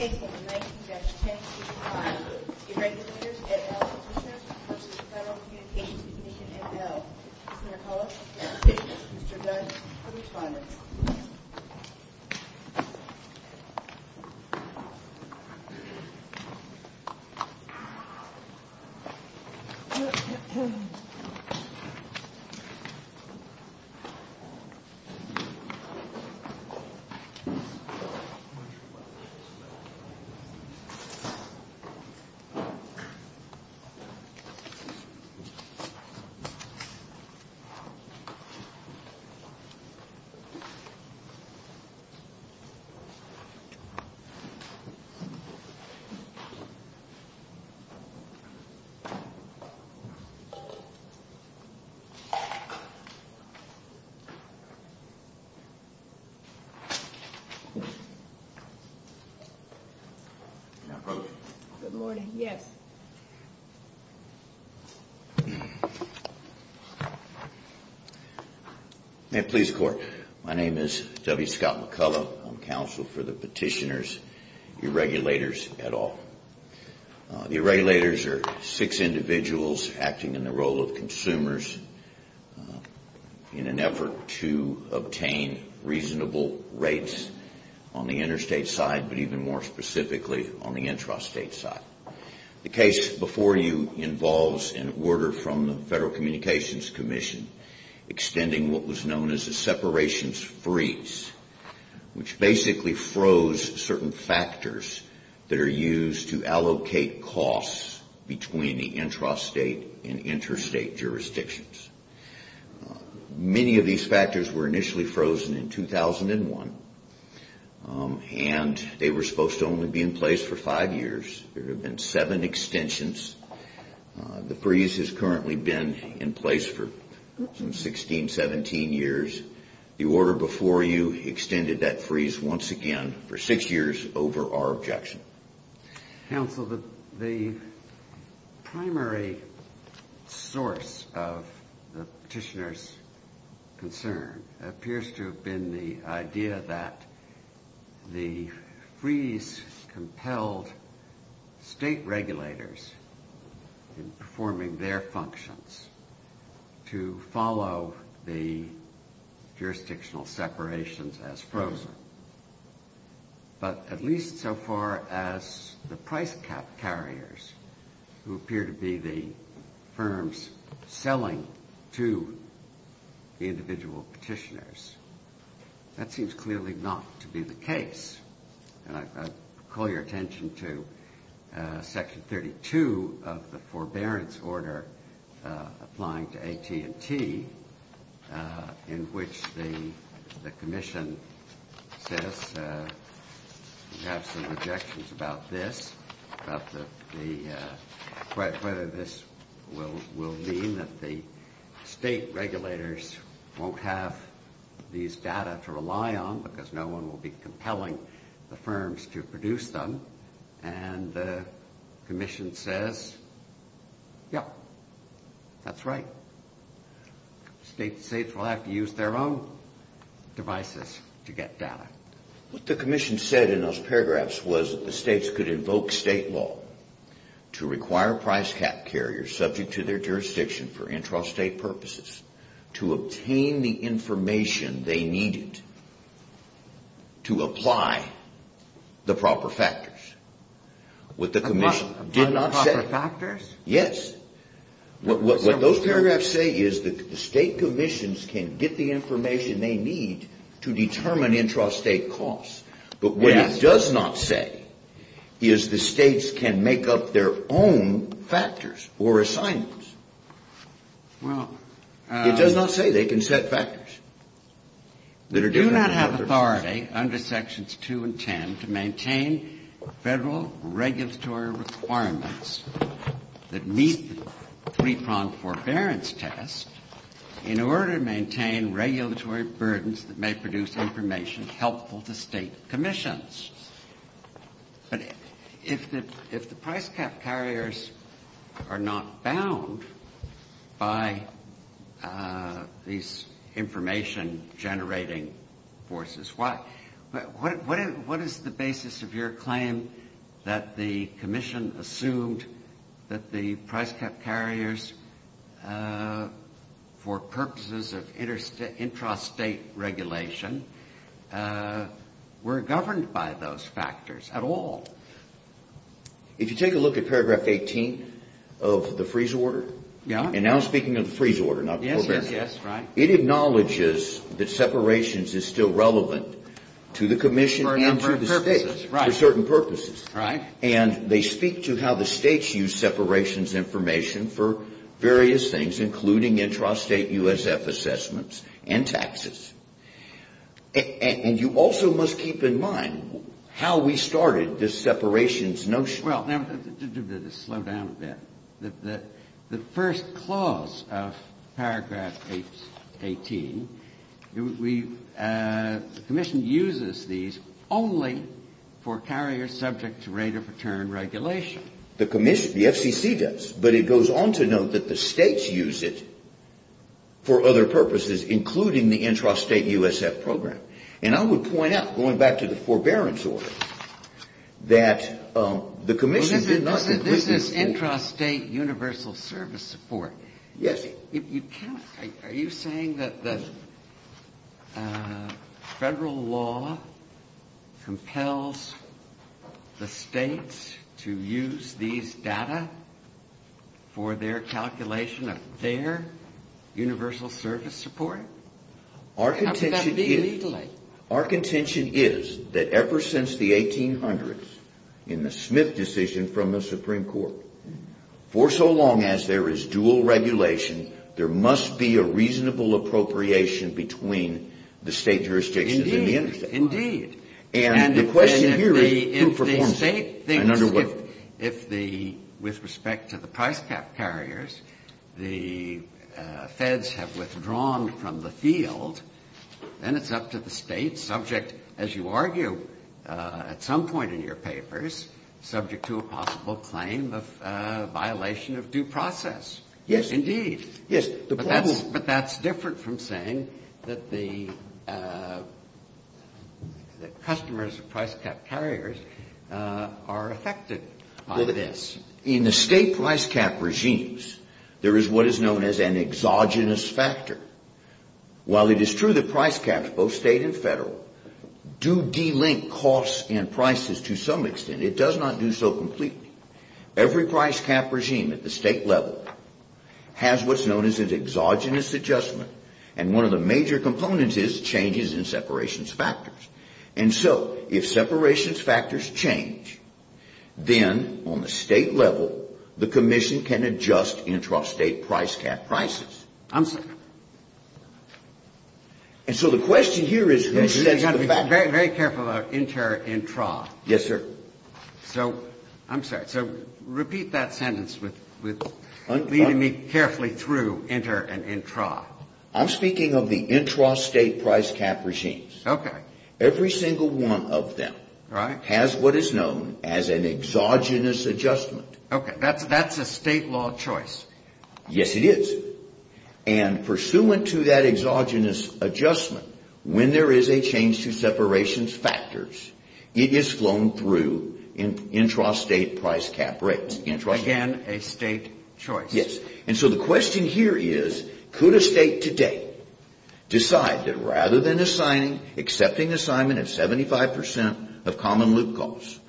Case No. 19-1065 Irregulators, et al. petitioners v. Federal Communications Commission, et al. Mr. McCullough, Mr. Dunn, the respondents. Mr. McCullough, Mr. Dunn, the respondents. Mr. McCullough, Mr. Dunn, the respondents. Good morning. Yes. May it please the Court. My name is W. Scott McCullough. I'm counsel for the petitioners, Irregulators, et al. The Irregulators are six individuals acting in the role of consumers in an effort to obtain reasonable rates on the interstate side, but even more specifically on the intrastate side. The case before you involves an order from the Federal Communications Commission extending what was known as a separations freeze, which basically froze certain factors that are used to allocate costs between the intrastate and interstate jurisdictions. Many of these factors were initially frozen in 2001, and they were supposed to only be in place for five years. There have been seven extensions. The freeze has currently been in place for some 16, 17 years. The order before you extended that freeze once again for six years over our objection. Counsel, the primary source of the petitioners' concern appears to have been the idea that the freeze compelled state regulators in performing their functions to follow the jurisdictional separations as frozen, but at least so far as the price cap carriers who appear to be the firms selling to the individual petitioners. That seems clearly not to be the case, and I call your attention to Section 32 of the Forbearance Order applying to AT&T in which the commission says, we have some objections about this, whether this will mean that the state regulators won't have these data to rely on because no one will be compelling the firms to produce them. And the commission says, yep, that's right. States will have to use their own devices to get data. What the commission said in those paragraphs was that the states could invoke state law to require price cap carriers subject to their jurisdiction for intrastate purposes to obtain the information they needed to apply the proper factors. Apply the proper factors? Yes. What those paragraphs say is that the state commissions can get the information they need to determine intrastate costs, but what it does not say is the states can make up their own factors or assignments. It does not say they can set factors. They do not have authority under Sections 2 and 10 to maintain Federal regulatory requirements that meet the three-pronged forbearance test in order to maintain regulatory burdens that may produce information helpful to state commissions. But if the price cap carriers are not bound by these information-generating forces, what is the basis of your claim that the commission assumed that the price cap carriers, for purposes of intrastate regulation, were governed by those factors at all? If you take a look at paragraph 18 of the freeze order, and now I'm speaking of the freeze order, not the forbearance test, it acknowledges that separations is still relevant to the commission and to the states for certain purposes. Right. And they speak to how the states use separations information for various things, including intrastate USF assessments and taxes. And you also must keep in mind how we started this separations notion. Well, to slow down a bit, the first clause of paragraph 18, the commission uses these only for carriers subject to rate of return regulation. The commission, the FCC does. But it goes on to note that the states use it for other purposes, including the intrastate USF program. And I would point out, going back to the forbearance order, that the commission did not This is intrastate universal service support. Yes. Are you saying that the federal law compels the states to use these data for their calculation of their universal service support? How could that be legally? Our contention is that ever since the 1800s, in the Smith decision from the Supreme Court, for so long as there is dual regulation, there must be a reasonable appropriation between the state jurisdictions and the intrastate. Indeed. And the question here is who performs it. And under what? If the, with respect to the price cap carriers, the feds have withdrawn from the field, then it's up to the states, subject, as you argue at some point in your papers, subject to a possible claim of violation of due process. Yes. Indeed. Yes. But that's different from saying that the customers of price cap carriers are affected by this. In the state price cap regimes, there is what is known as an exogenous factor. While it is true that price caps, both state and federal, do delink costs and prices to some extent, it does not do so completely. Every price cap regime at the state level has what's known as an exogenous adjustment, and one of the major components is changes in separations factors. And so if separations factors change, then on the state level, the commission can adjust intrastate price cap prices. I'm sorry. And so the question here is who says that? Very careful about intra and intra. Yes, sir. So I'm sorry. So repeat that sentence with leading me carefully through intra and intra. I'm speaking of the intrastate price cap regimes. Okay. Every single one of them has what is known as an exogenous adjustment. Okay. That's a state law choice. Yes, it is. And pursuant to that exogenous adjustment, when there is a change to separations factors, it is flown through intrastate price cap rates. Again, a state choice. Yes. And so the question here is could a state today decide that rather than accepting assignment at 75% of common loop costs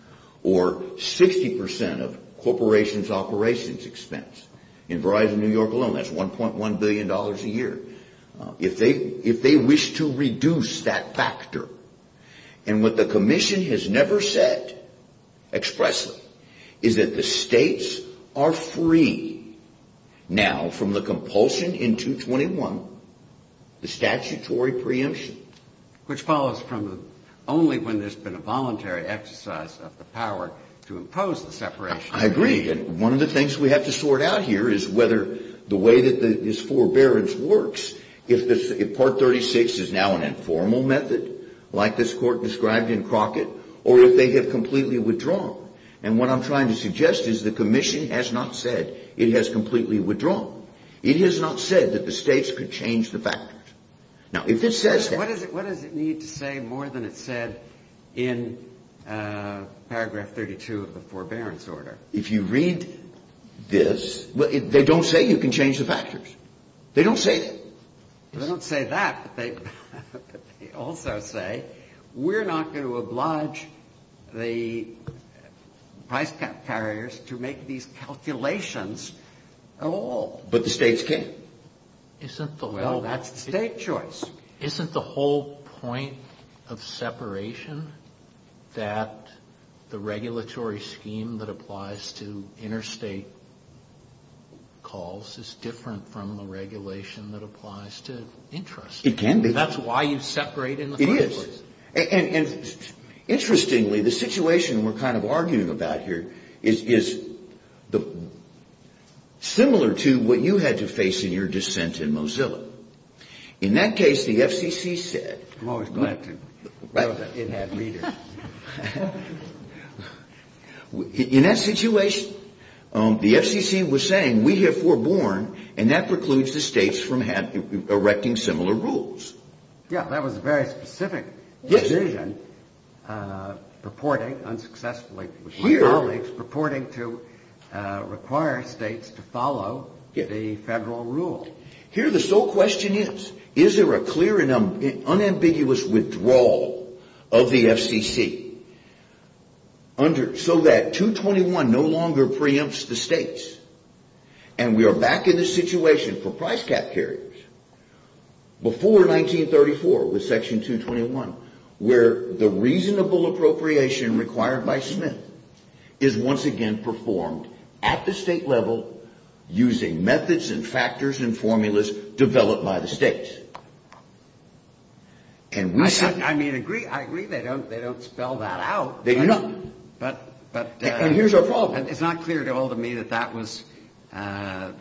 or 60% of corporations' operations expense? In Verizon New York alone, that's $1.1 billion a year. If they wish to reduce that factor, and what the commission has never said expressly, is that the states are free now from the compulsion in 221, the statutory preemption. Which follows from only when there's been a voluntary exercise of the power to impose the separation. I agree. And one of the things we have to sort out here is whether the way that this forbearance works, if Part 36 is now an informal method, like this court described in Crockett, or if they have completely withdrawn. And what I'm trying to suggest is the commission has not said it has completely withdrawn. It has not said that the states could change the factors. Now, if it says that. What does it need to say more than it said in Paragraph 32 of the forbearance order? If you read this, they don't say you can change the factors. They don't say that. They don't say that, but they also say, we're not going to oblige the price cap carriers to make these calculations at all. But the states can. Well, that's the state choice. Isn't the whole point of separation that the regulatory scheme that applies to interstate calls is different from the regulation that applies to interest? It can be. That's why you separate in the first place. It is. And interestingly, the situation we're kind of arguing about here is similar to what you had to face in your dissent in Mozilla. In that case, the FCC said, in that situation, the FCC was saying we have foreborn, and that precludes the states from erecting similar rules. Yeah, that was a very specific decision purporting unsuccessfully to require states to follow the federal rule. Here the sole question is, is there a clear and unambiguous withdrawal of the FCC so that 221 no longer preempts the states? And we are back in this situation for price cap carriers before 1934 with Section 221, where the reasonable appropriation required by Smith is once again performed at the state level using methods and factors and formulas developed by the states. I mean, I agree they don't spell that out. They do not. And here's our problem. It's not clear to all of me that that was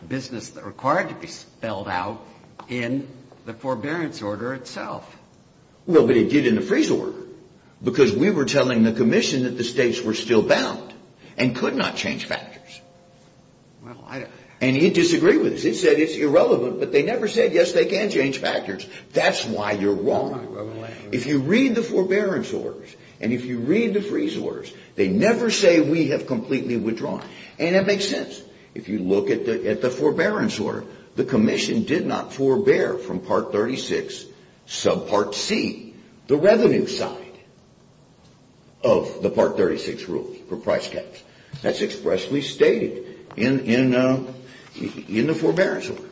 business that required to be spelled out in the forbearance order itself. Well, but it did in the freeze order because we were telling the commission that the states were still bound and could not change factors. And it disagreed with us. It said it's irrelevant, but they never said, yes, they can change factors. That's why you're wrong. If you read the forbearance orders and if you read the freeze orders, they never say we have completely withdrawn. And that makes sense. If you look at the forbearance order, the commission did not forbear from Part 36 sub Part C, the revenue side of the Part 36 rule for price caps. That's expressly stated in the forbearance order.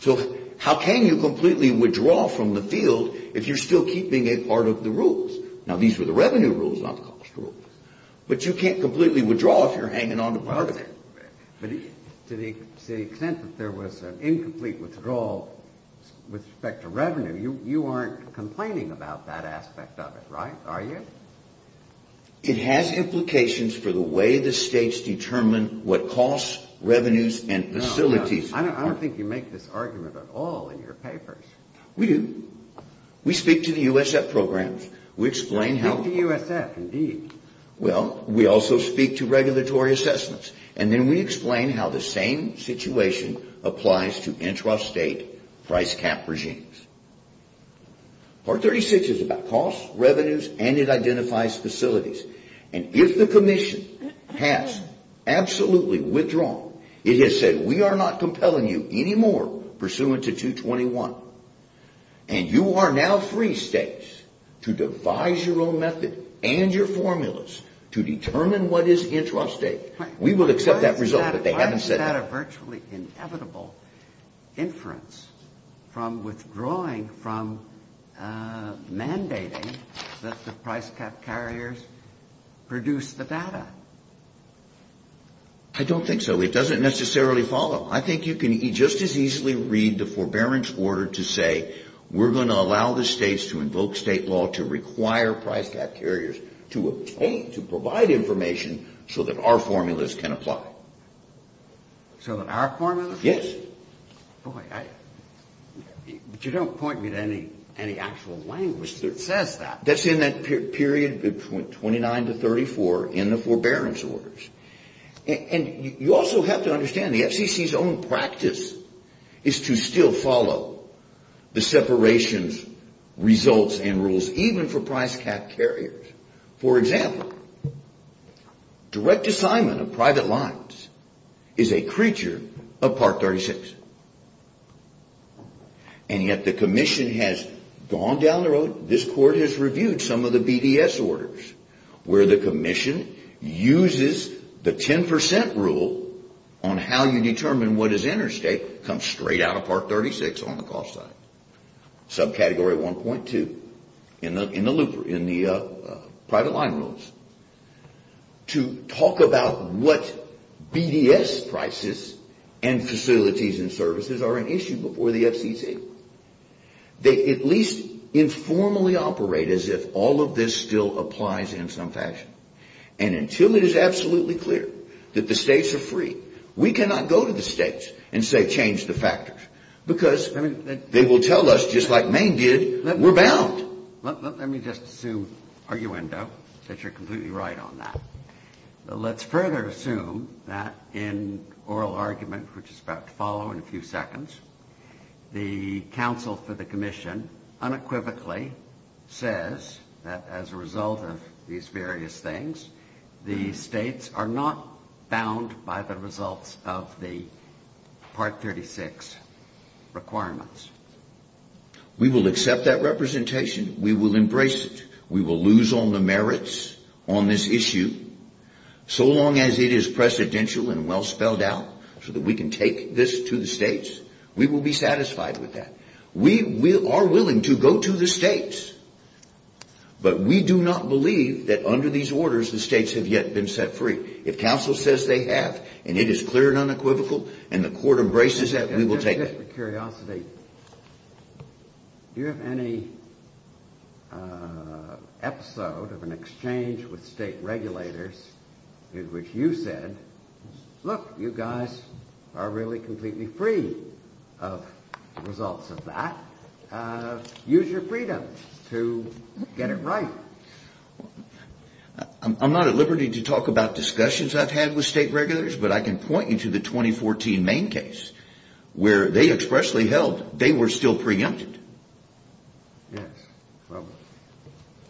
So how can you completely withdraw from the field if you're still keeping a part of the rules? Now, these were the revenue rules, not the cost rules. But you can't completely withdraw if you're hanging on to part of it. But to the extent that there was an incomplete withdrawal with respect to revenue, you aren't complaining about that aspect of it, right? Are you? It has implications for the way the states determine what costs, revenues, and facilities. I don't think you make this argument at all in your papers. We do. We speak to the USF programs. We explain how. Speak to USF, indeed. Well, we also speak to regulatory assessments. And then we explain how the same situation applies to intrastate price cap regimes. Part 36 is about costs, revenues, and it identifies facilities. And if the commission has absolutely withdrawn, it has said we are not compelling you anymore pursuant to 221. And you are now free, states, to devise your own method and your formulas to determine what is intrastate. We will accept that result, but they haven't said that. Is that a virtually inevitable inference from withdrawing from mandating that the price cap carriers produce the data? I don't think so. It doesn't necessarily follow. I think you can just as easily read the forbearance order to say we're going to allow the states to invoke state law to require price cap carriers to obtain, to provide information so that our formulas can apply. So that our formulas? Yes. Boy, you don't point me to any actual language that says that. That's in that period between 29 to 34 in the forbearance orders. And you also have to understand the FCC's own practice is to still follow the separations, results, and rules, even for price cap carriers. For example, direct assignment of private lines is a creature of Part 36. And yet the commission has gone down the road, this court has reviewed some of the BDS orders where the commission uses the 10% rule on how you determine what is intrastate comes straight out of Part 36 on the cost side. Subcategory 1.2 in the private line rules to talk about what BDS prices and facilities and services are an issue before the FCC. They at least informally operate as if all of this still applies in some fashion. And until it is absolutely clear that the states are free, we cannot go to the states and say change the factors. Because they will tell us just like Maine did, we're bound. Let me just assume, arguendo, that you're completely right on that. Let's further assume that in oral argument, which is about to follow in a few seconds, the counsel for the commission unequivocally says that as a result of these various things, the states are not bound by the results of the Part 36 requirements. We will accept that representation. We will embrace it. We will lose all the merits on this issue so long as it is precedential and well spelled out so that we can take this to the states. We will be satisfied with that. We are willing to go to the states, but we do not believe that under these orders the states have yet been set free. If counsel says they have and it is clear and unequivocal and the court embraces that, we will take it. Just for curiosity, do you have any episode of an exchange with state regulators in which you said, look, you guys are really completely free of the results of that. Use your freedom to get it right. I'm not at liberty to talk about discussions I've had with state regulators, but I can point you to the 2014 Maine case where they expressly held they were still preempted.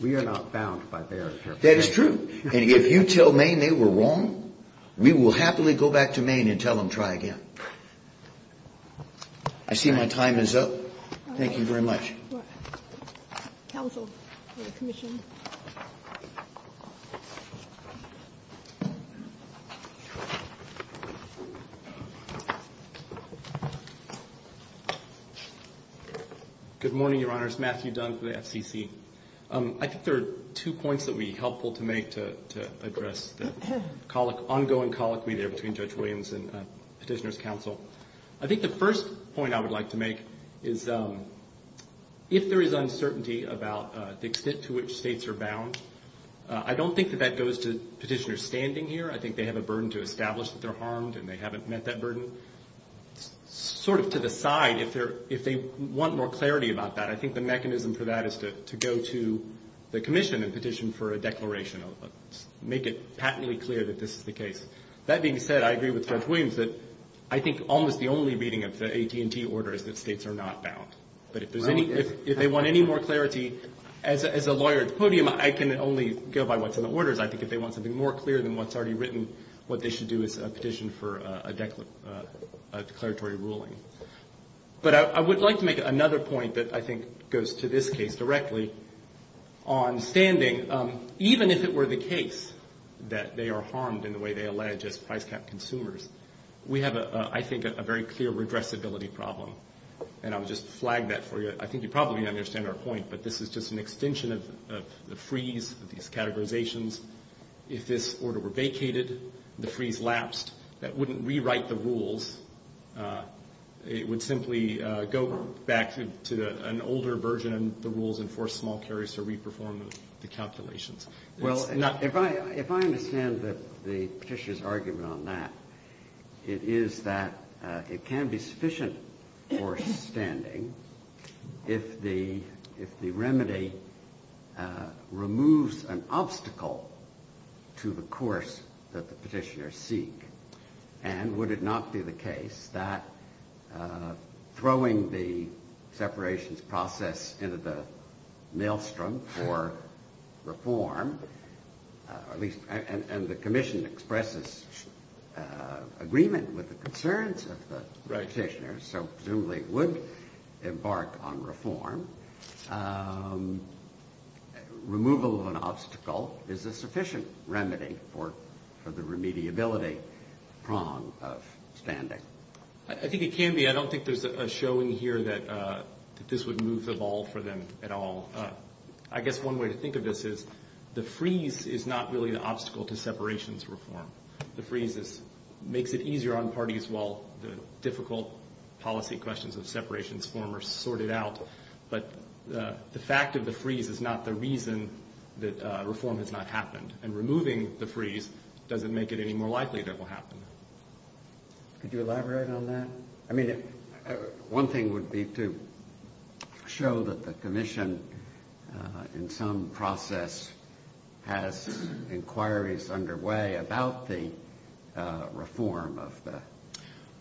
We are not bound by their interpretation. That is true. And if you tell Maine they were wrong, we will happily go back to Maine and tell them try again. I see my time is up. Thank you very much. Counsel for the commission. Good morning, Your Honors. Matthew Dunn for the FCC. I think there are two points that would be helpful to make to address the ongoing colloquy there between Judge Williams and Petitioner's counsel. I think the first point I would like to make is if there is uncertainty about the extent to which states are bound, I don't think that that goes to Petitioner's standing here. I think they have a burden to establish that they're harmed and they haven't met that burden. Sort of to the side, if they want more clarity about that, I think the mechanism for that is to go to the commission and petition for a declaration. Make it patently clear that this is the case. That being said, I agree with Judge Williams that I think almost the only reading of the AT&T order is that states are not bound. But if they want any more clarity, as a lawyer at the podium, I can only go by what's in the orders. I think if they want something more clear than what's already written, what they should do is petition for a declaratory ruling. But I would like to make another point that I think goes to this case directly on standing. Even if it were the case that they are harmed in the way they allege as price cap consumers, we have, I think, a very clear redressability problem. And I'll just flag that for you. I think you probably understand our point, but this is just an extension of the freeze, these categorizations. If this order were vacated, the freeze lapsed, that wouldn't rewrite the rules. It would simply go back to an older version of the rules and force small carriers to re-perform the calculations. Well, if I understand the petitioner's argument on that, it is that it can be sufficient for standing if the remedy removes an obstacle to the course that the petitioners seek. And would it not be the case that throwing the separations process into the maelstrom for reform, and the commission expresses agreement with the concerns of the petitioners, so presumably would embark on reform, removal of an obstacle is a sufficient remedy for the remediability prong of standing? I think it can be. I don't think there's a showing here that this would move the ball for them at all. I guess one way to think of this is the freeze is not really an obstacle to separations reform. The freeze makes it easier on parties while the difficult policy questions of separations reform are sorted out. But the fact of the freeze is not the reason that reform has not happened. And removing the freeze doesn't make it any more likely that it will happen. Could you elaborate on that? I mean, one thing would be to show that the commission in some process has inquiries underway about the reform of the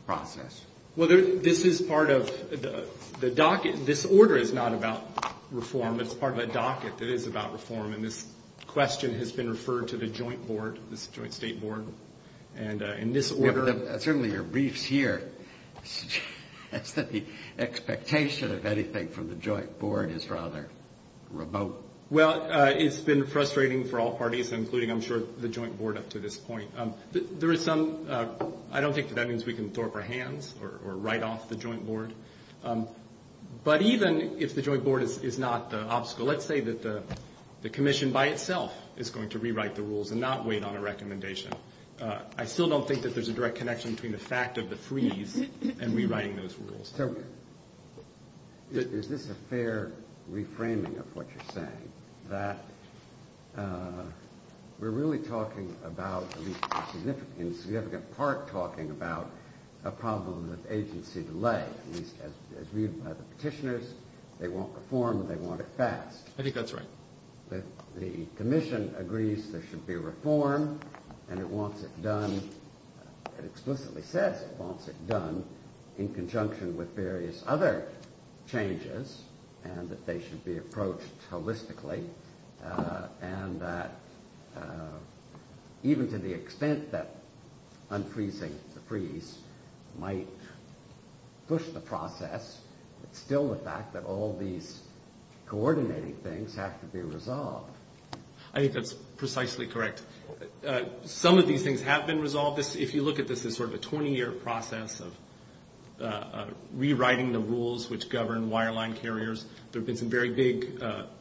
process. Well, this is part of the docket. This order is not about reform. It's part of a docket that is about reform. And this question has been referred to the joint board, this joint state board. Certainly your briefs here suggest that the expectation of anything from the joint board is rather remote. Well, it's been frustrating for all parties, including, I'm sure, the joint board up to this point. I don't think that that means we can throw up our hands or write off the joint board. But even if the joint board is not the obstacle, let's say that the commission by itself is going to rewrite the rules and not wait on a recommendation, I still don't think that there's a direct connection between the fact of the freeze and rewriting those rules. So is this a fair reframing of what you're saying, that we're really talking about, at least in significant part, talking about a problem with agency delay, at least as read by the petitioners. They won't reform. They want it fast. I think that's right. The commission agrees there should be reform and it wants it done. It explicitly says it wants it done in conjunction with various other changes and that they should be approached holistically. And that even to the extent that unfreezing the freeze might push the process, it's still the fact that all these coordinating things have to be resolved. I think that's precisely correct. Some of these things have been resolved. If you look at this as sort of a 20-year process of rewriting the rules which govern wireline carriers, there have been some very big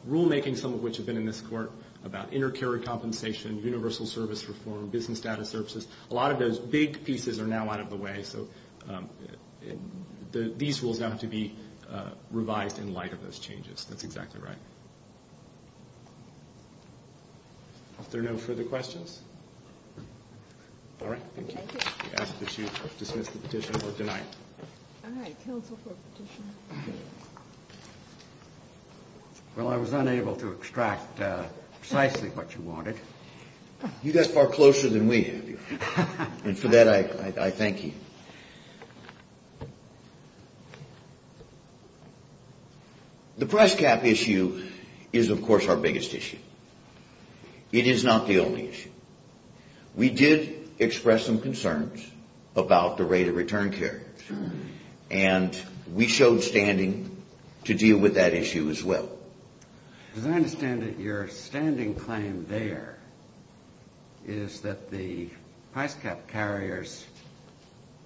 rulemaking, some of which have been in this court, about inter-carrier compensation, universal service reform, business data services. A lot of those big pieces are now out of the way. So these rules now have to be revised in light of those changes. That's exactly right. Are there no further questions? All right. Thank you. I ask that you dismiss the petition for tonight. All right. Counsel for a petition. Well, I was unable to extract precisely what you wanted. You got far closer than we have. Thank you. And for that, I thank you. The price cap issue is, of course, our biggest issue. It is not the only issue. We did express some concerns about the rate of return carriers. And we showed standing to deal with that issue as well. As I understand it, your standing claim there is that the price cap carriers'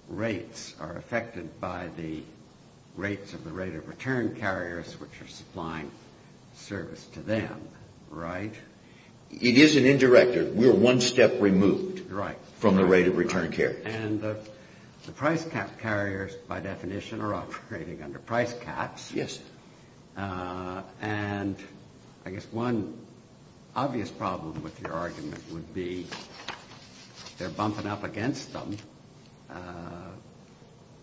rates are affected by the rates of the rate of return carriers, which are supplying service to them, right? It is an indirect. We are one step removed from the rate of return carriers. And the price cap carriers, by definition, are operating under price caps. Yes. And I guess one obvious problem with your argument would be they're bumping up against them.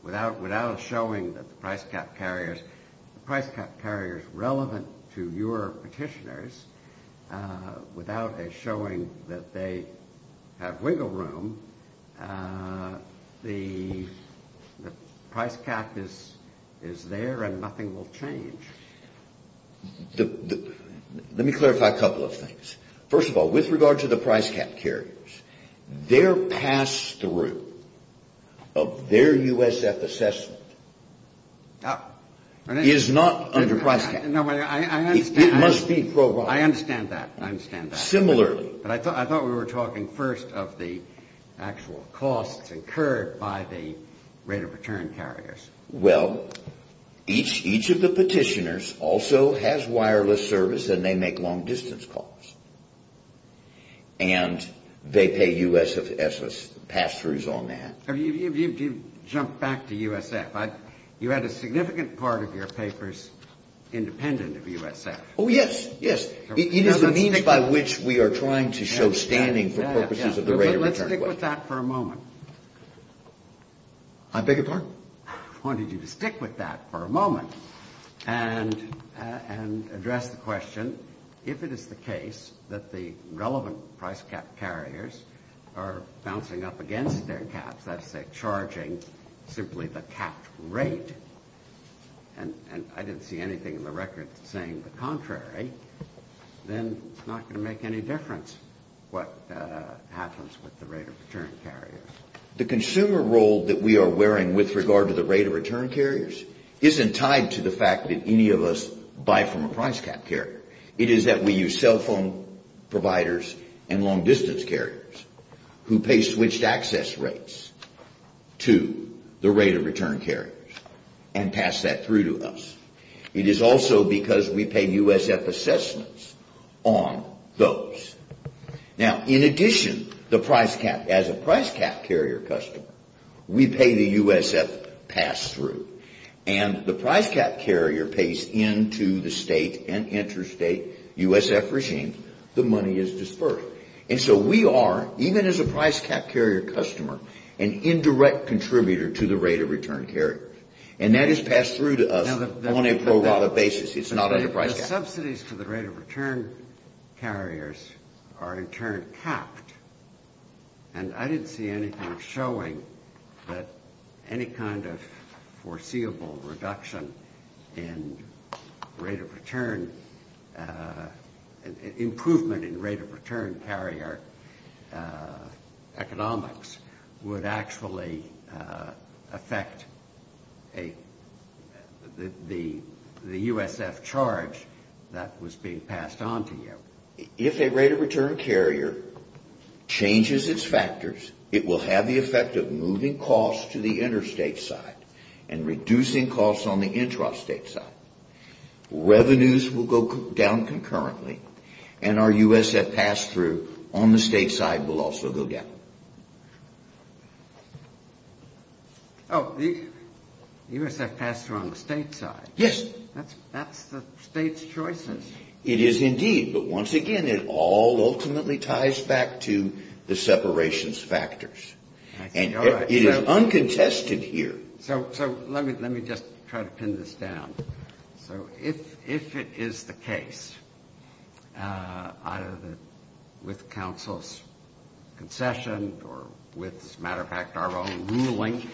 Without showing that the price cap carriers relevant to your petitioners, without showing that they have wiggle room, the price cap is there and nothing will change. Let me clarify a couple of things. First of all, with regard to the price cap carriers, their pass-through of their USF assessment is not under price cap. It must be provided. I understand that. Similarly. I thought we were talking first of the actual costs incurred by the rate of return carriers. Well, each of the petitioners also has wireless service and they make long-distance calls. And they pay USF pass-throughs on that. If you jump back to USF, you had a significant part of your papers independent of USF. Oh, yes. Yes. It is a means by which we are trying to show standing for purposes of the rate of return. Let's stick with that for a moment. I beg your pardon? I wanted you to stick with that for a moment and address the question, if it is the case that the relevant price cap carriers are bouncing up against their caps, that is to say charging simply the cap rate, and I didn't see anything in the record saying the contrary, then it's not going to make any difference what happens with the rate of return carriers. The consumer role that we are wearing with regard to the rate of return carriers isn't tied to the fact that any of us buy from a price cap carrier. It is that we use cell phone providers and long-distance carriers who pay switched access rates to the rate of return carriers and pass that through to us. It is also because we pay USF assessments on those. Now, in addition, the price cap, as a price cap carrier customer, we pay the USF pass-through, and the price cap carrier pays into the state and interstate USF regime, the money is disbursed. And so we are, even as a price cap carrier customer, an indirect contributor to the rate of return carriers, and that is passed through to us on a pro rata basis. It's not under price cap. The subsidies for the rate of return carriers are in turn capped, and I didn't see anything showing that any kind of foreseeable reduction in rate of return, improvement in rate of return carrier economics would actually affect the USF charge that was being passed on to you. If a rate of return carrier changes its factors, it will have the effect of moving costs to the interstate side and reducing costs on the intrastate side. Revenues will go down concurrently, and our USF pass-through on the state side will also go down. Oh, the USF pass-through on the state side? Yes. That's the state's choices. It is indeed, but once again, it all ultimately ties back to the separations factors. And it is uncontested here. So let me just try to pin this down. So if it is the case, either with counsel's concession or with, as a matter of fact, our own ruling,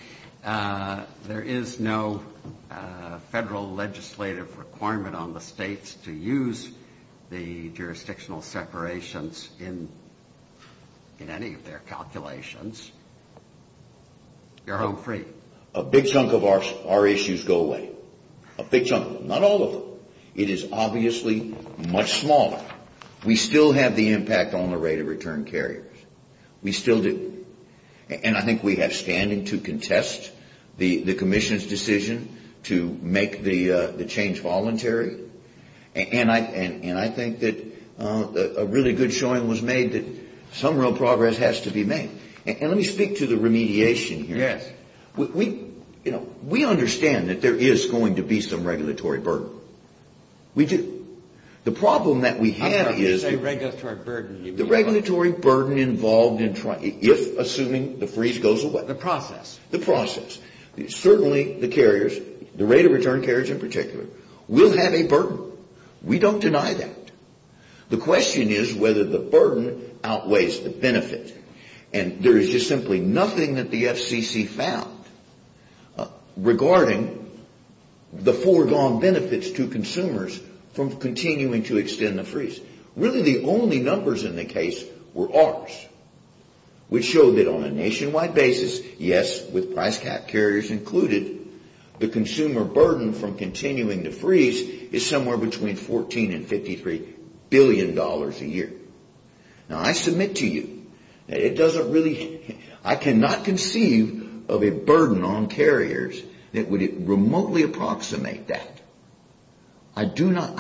there is no federal legislative requirement on the states to use the jurisdictional separations in any of their calculations, you're home free. A big chunk of our issues go away. A big chunk of them. Not all of them. It is obviously much smaller. We still have the impact on the rate of return carriers. We still do. And I think we have standing to contest the commission's decision to make the change voluntary. And I think that a really good showing was made that some real progress has to be made. And let me speak to the remediation here. Yes. We understand that there is going to be some regulatory burden. We do. The problem that we have is the regulatory burden involved in trying, if assuming the freeze goes away. The process. The process. Certainly the carriers, the rate of return carriers in particular, will have a burden. We don't deny that. The question is whether the burden outweighs the benefit. And there is just simply nothing that the FCC found regarding the foregone benefits to consumers from continuing to extend the freeze. Really the only numbers in the case were ours, which showed that on a nationwide basis, yes, with price cap carriers included, the consumer burden from continuing to freeze is somewhere between $14 and $53 billion a year. Now, I submit to you that it doesn't really – I cannot conceive of a burden on carriers that would remotely approximate that. I do not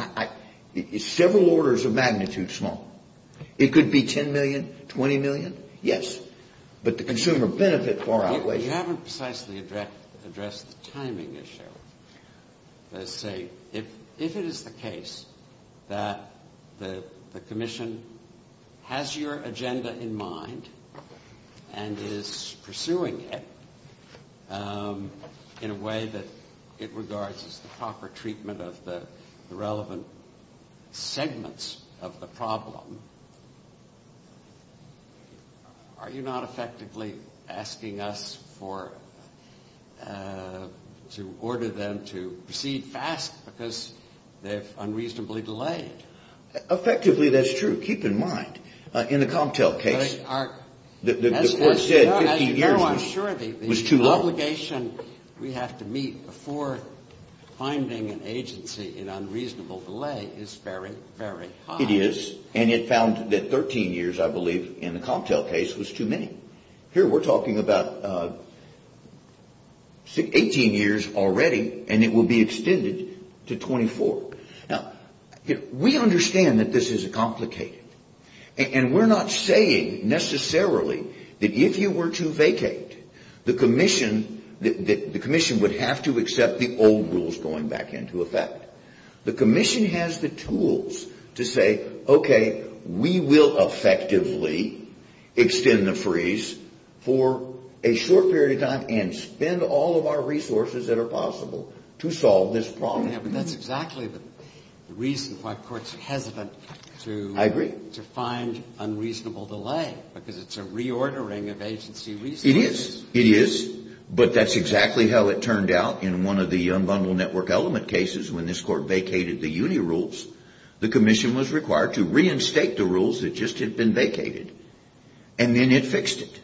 – it's several orders of magnitude small. It could be $10 million, $20 million. Yes. But the consumer benefit far outweighs it. You haven't precisely addressed the timing issue. Let's say if it is the case that the commission has your agenda in mind and is pursuing it in a way that it regards as the proper treatment of the relevant segments of the problem, are you not effectively asking us for – to order them to proceed fast because they've unreasonably delayed? Effectively, that's true. Keep in mind, in the cocktail case, the court said 15 years ago. As you know, I'm sure the obligation we have to meet before finding an agency in unreasonable delay is very, very high. It is, and it found that 13 years, I believe, in the cocktail case was too many. Here we're talking about 18 years already, and it will be extended to 24. Now, we understand that this is complicated, and we're not saying necessarily that if you were to vacate, the commission would have to accept the old rules going back into effect. The commission has the tools to say, okay, we will effectively extend the freeze for a short period of time and spend all of our resources that are possible to solve this problem. But that's exactly the reason why courts are hesitant to find unreasonable delay, because it's a reordering of agency resources. It is. It is, but that's exactly how it turned out in one of the unbundled network element cases when this court vacated the UNI rules. The commission was required to reinstate the rules that just had been vacated, and then it fixed it.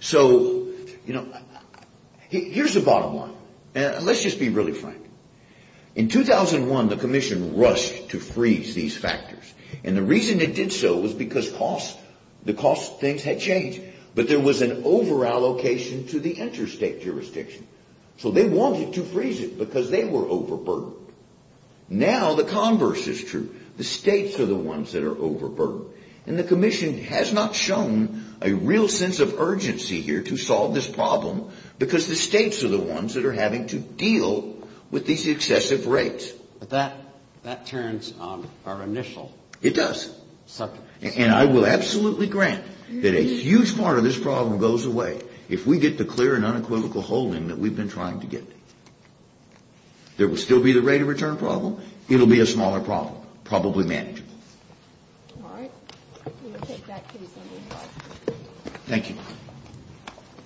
So, you know, here's the bottom line, and let's just be really frank. In 2001, the commission rushed to freeze these factors, and the reason it did so was because cost, the cost of things had changed. But there was an overallocation to the interstate jurisdiction. So they wanted to freeze it because they were overburdened. Now the converse is true. The states are the ones that are overburdened, and the commission has not shown a real sense of urgency here to solve this problem because the states are the ones that are having to deal with these excessive rates. But that turns our initial subject. And I will absolutely grant that a huge part of this problem goes away if we get the clear and unequivocal holding that we've been trying to get. There will still be the rate of return problem. It will be a smaller problem, probably manageable. All right. We will take that case under review. Thank you.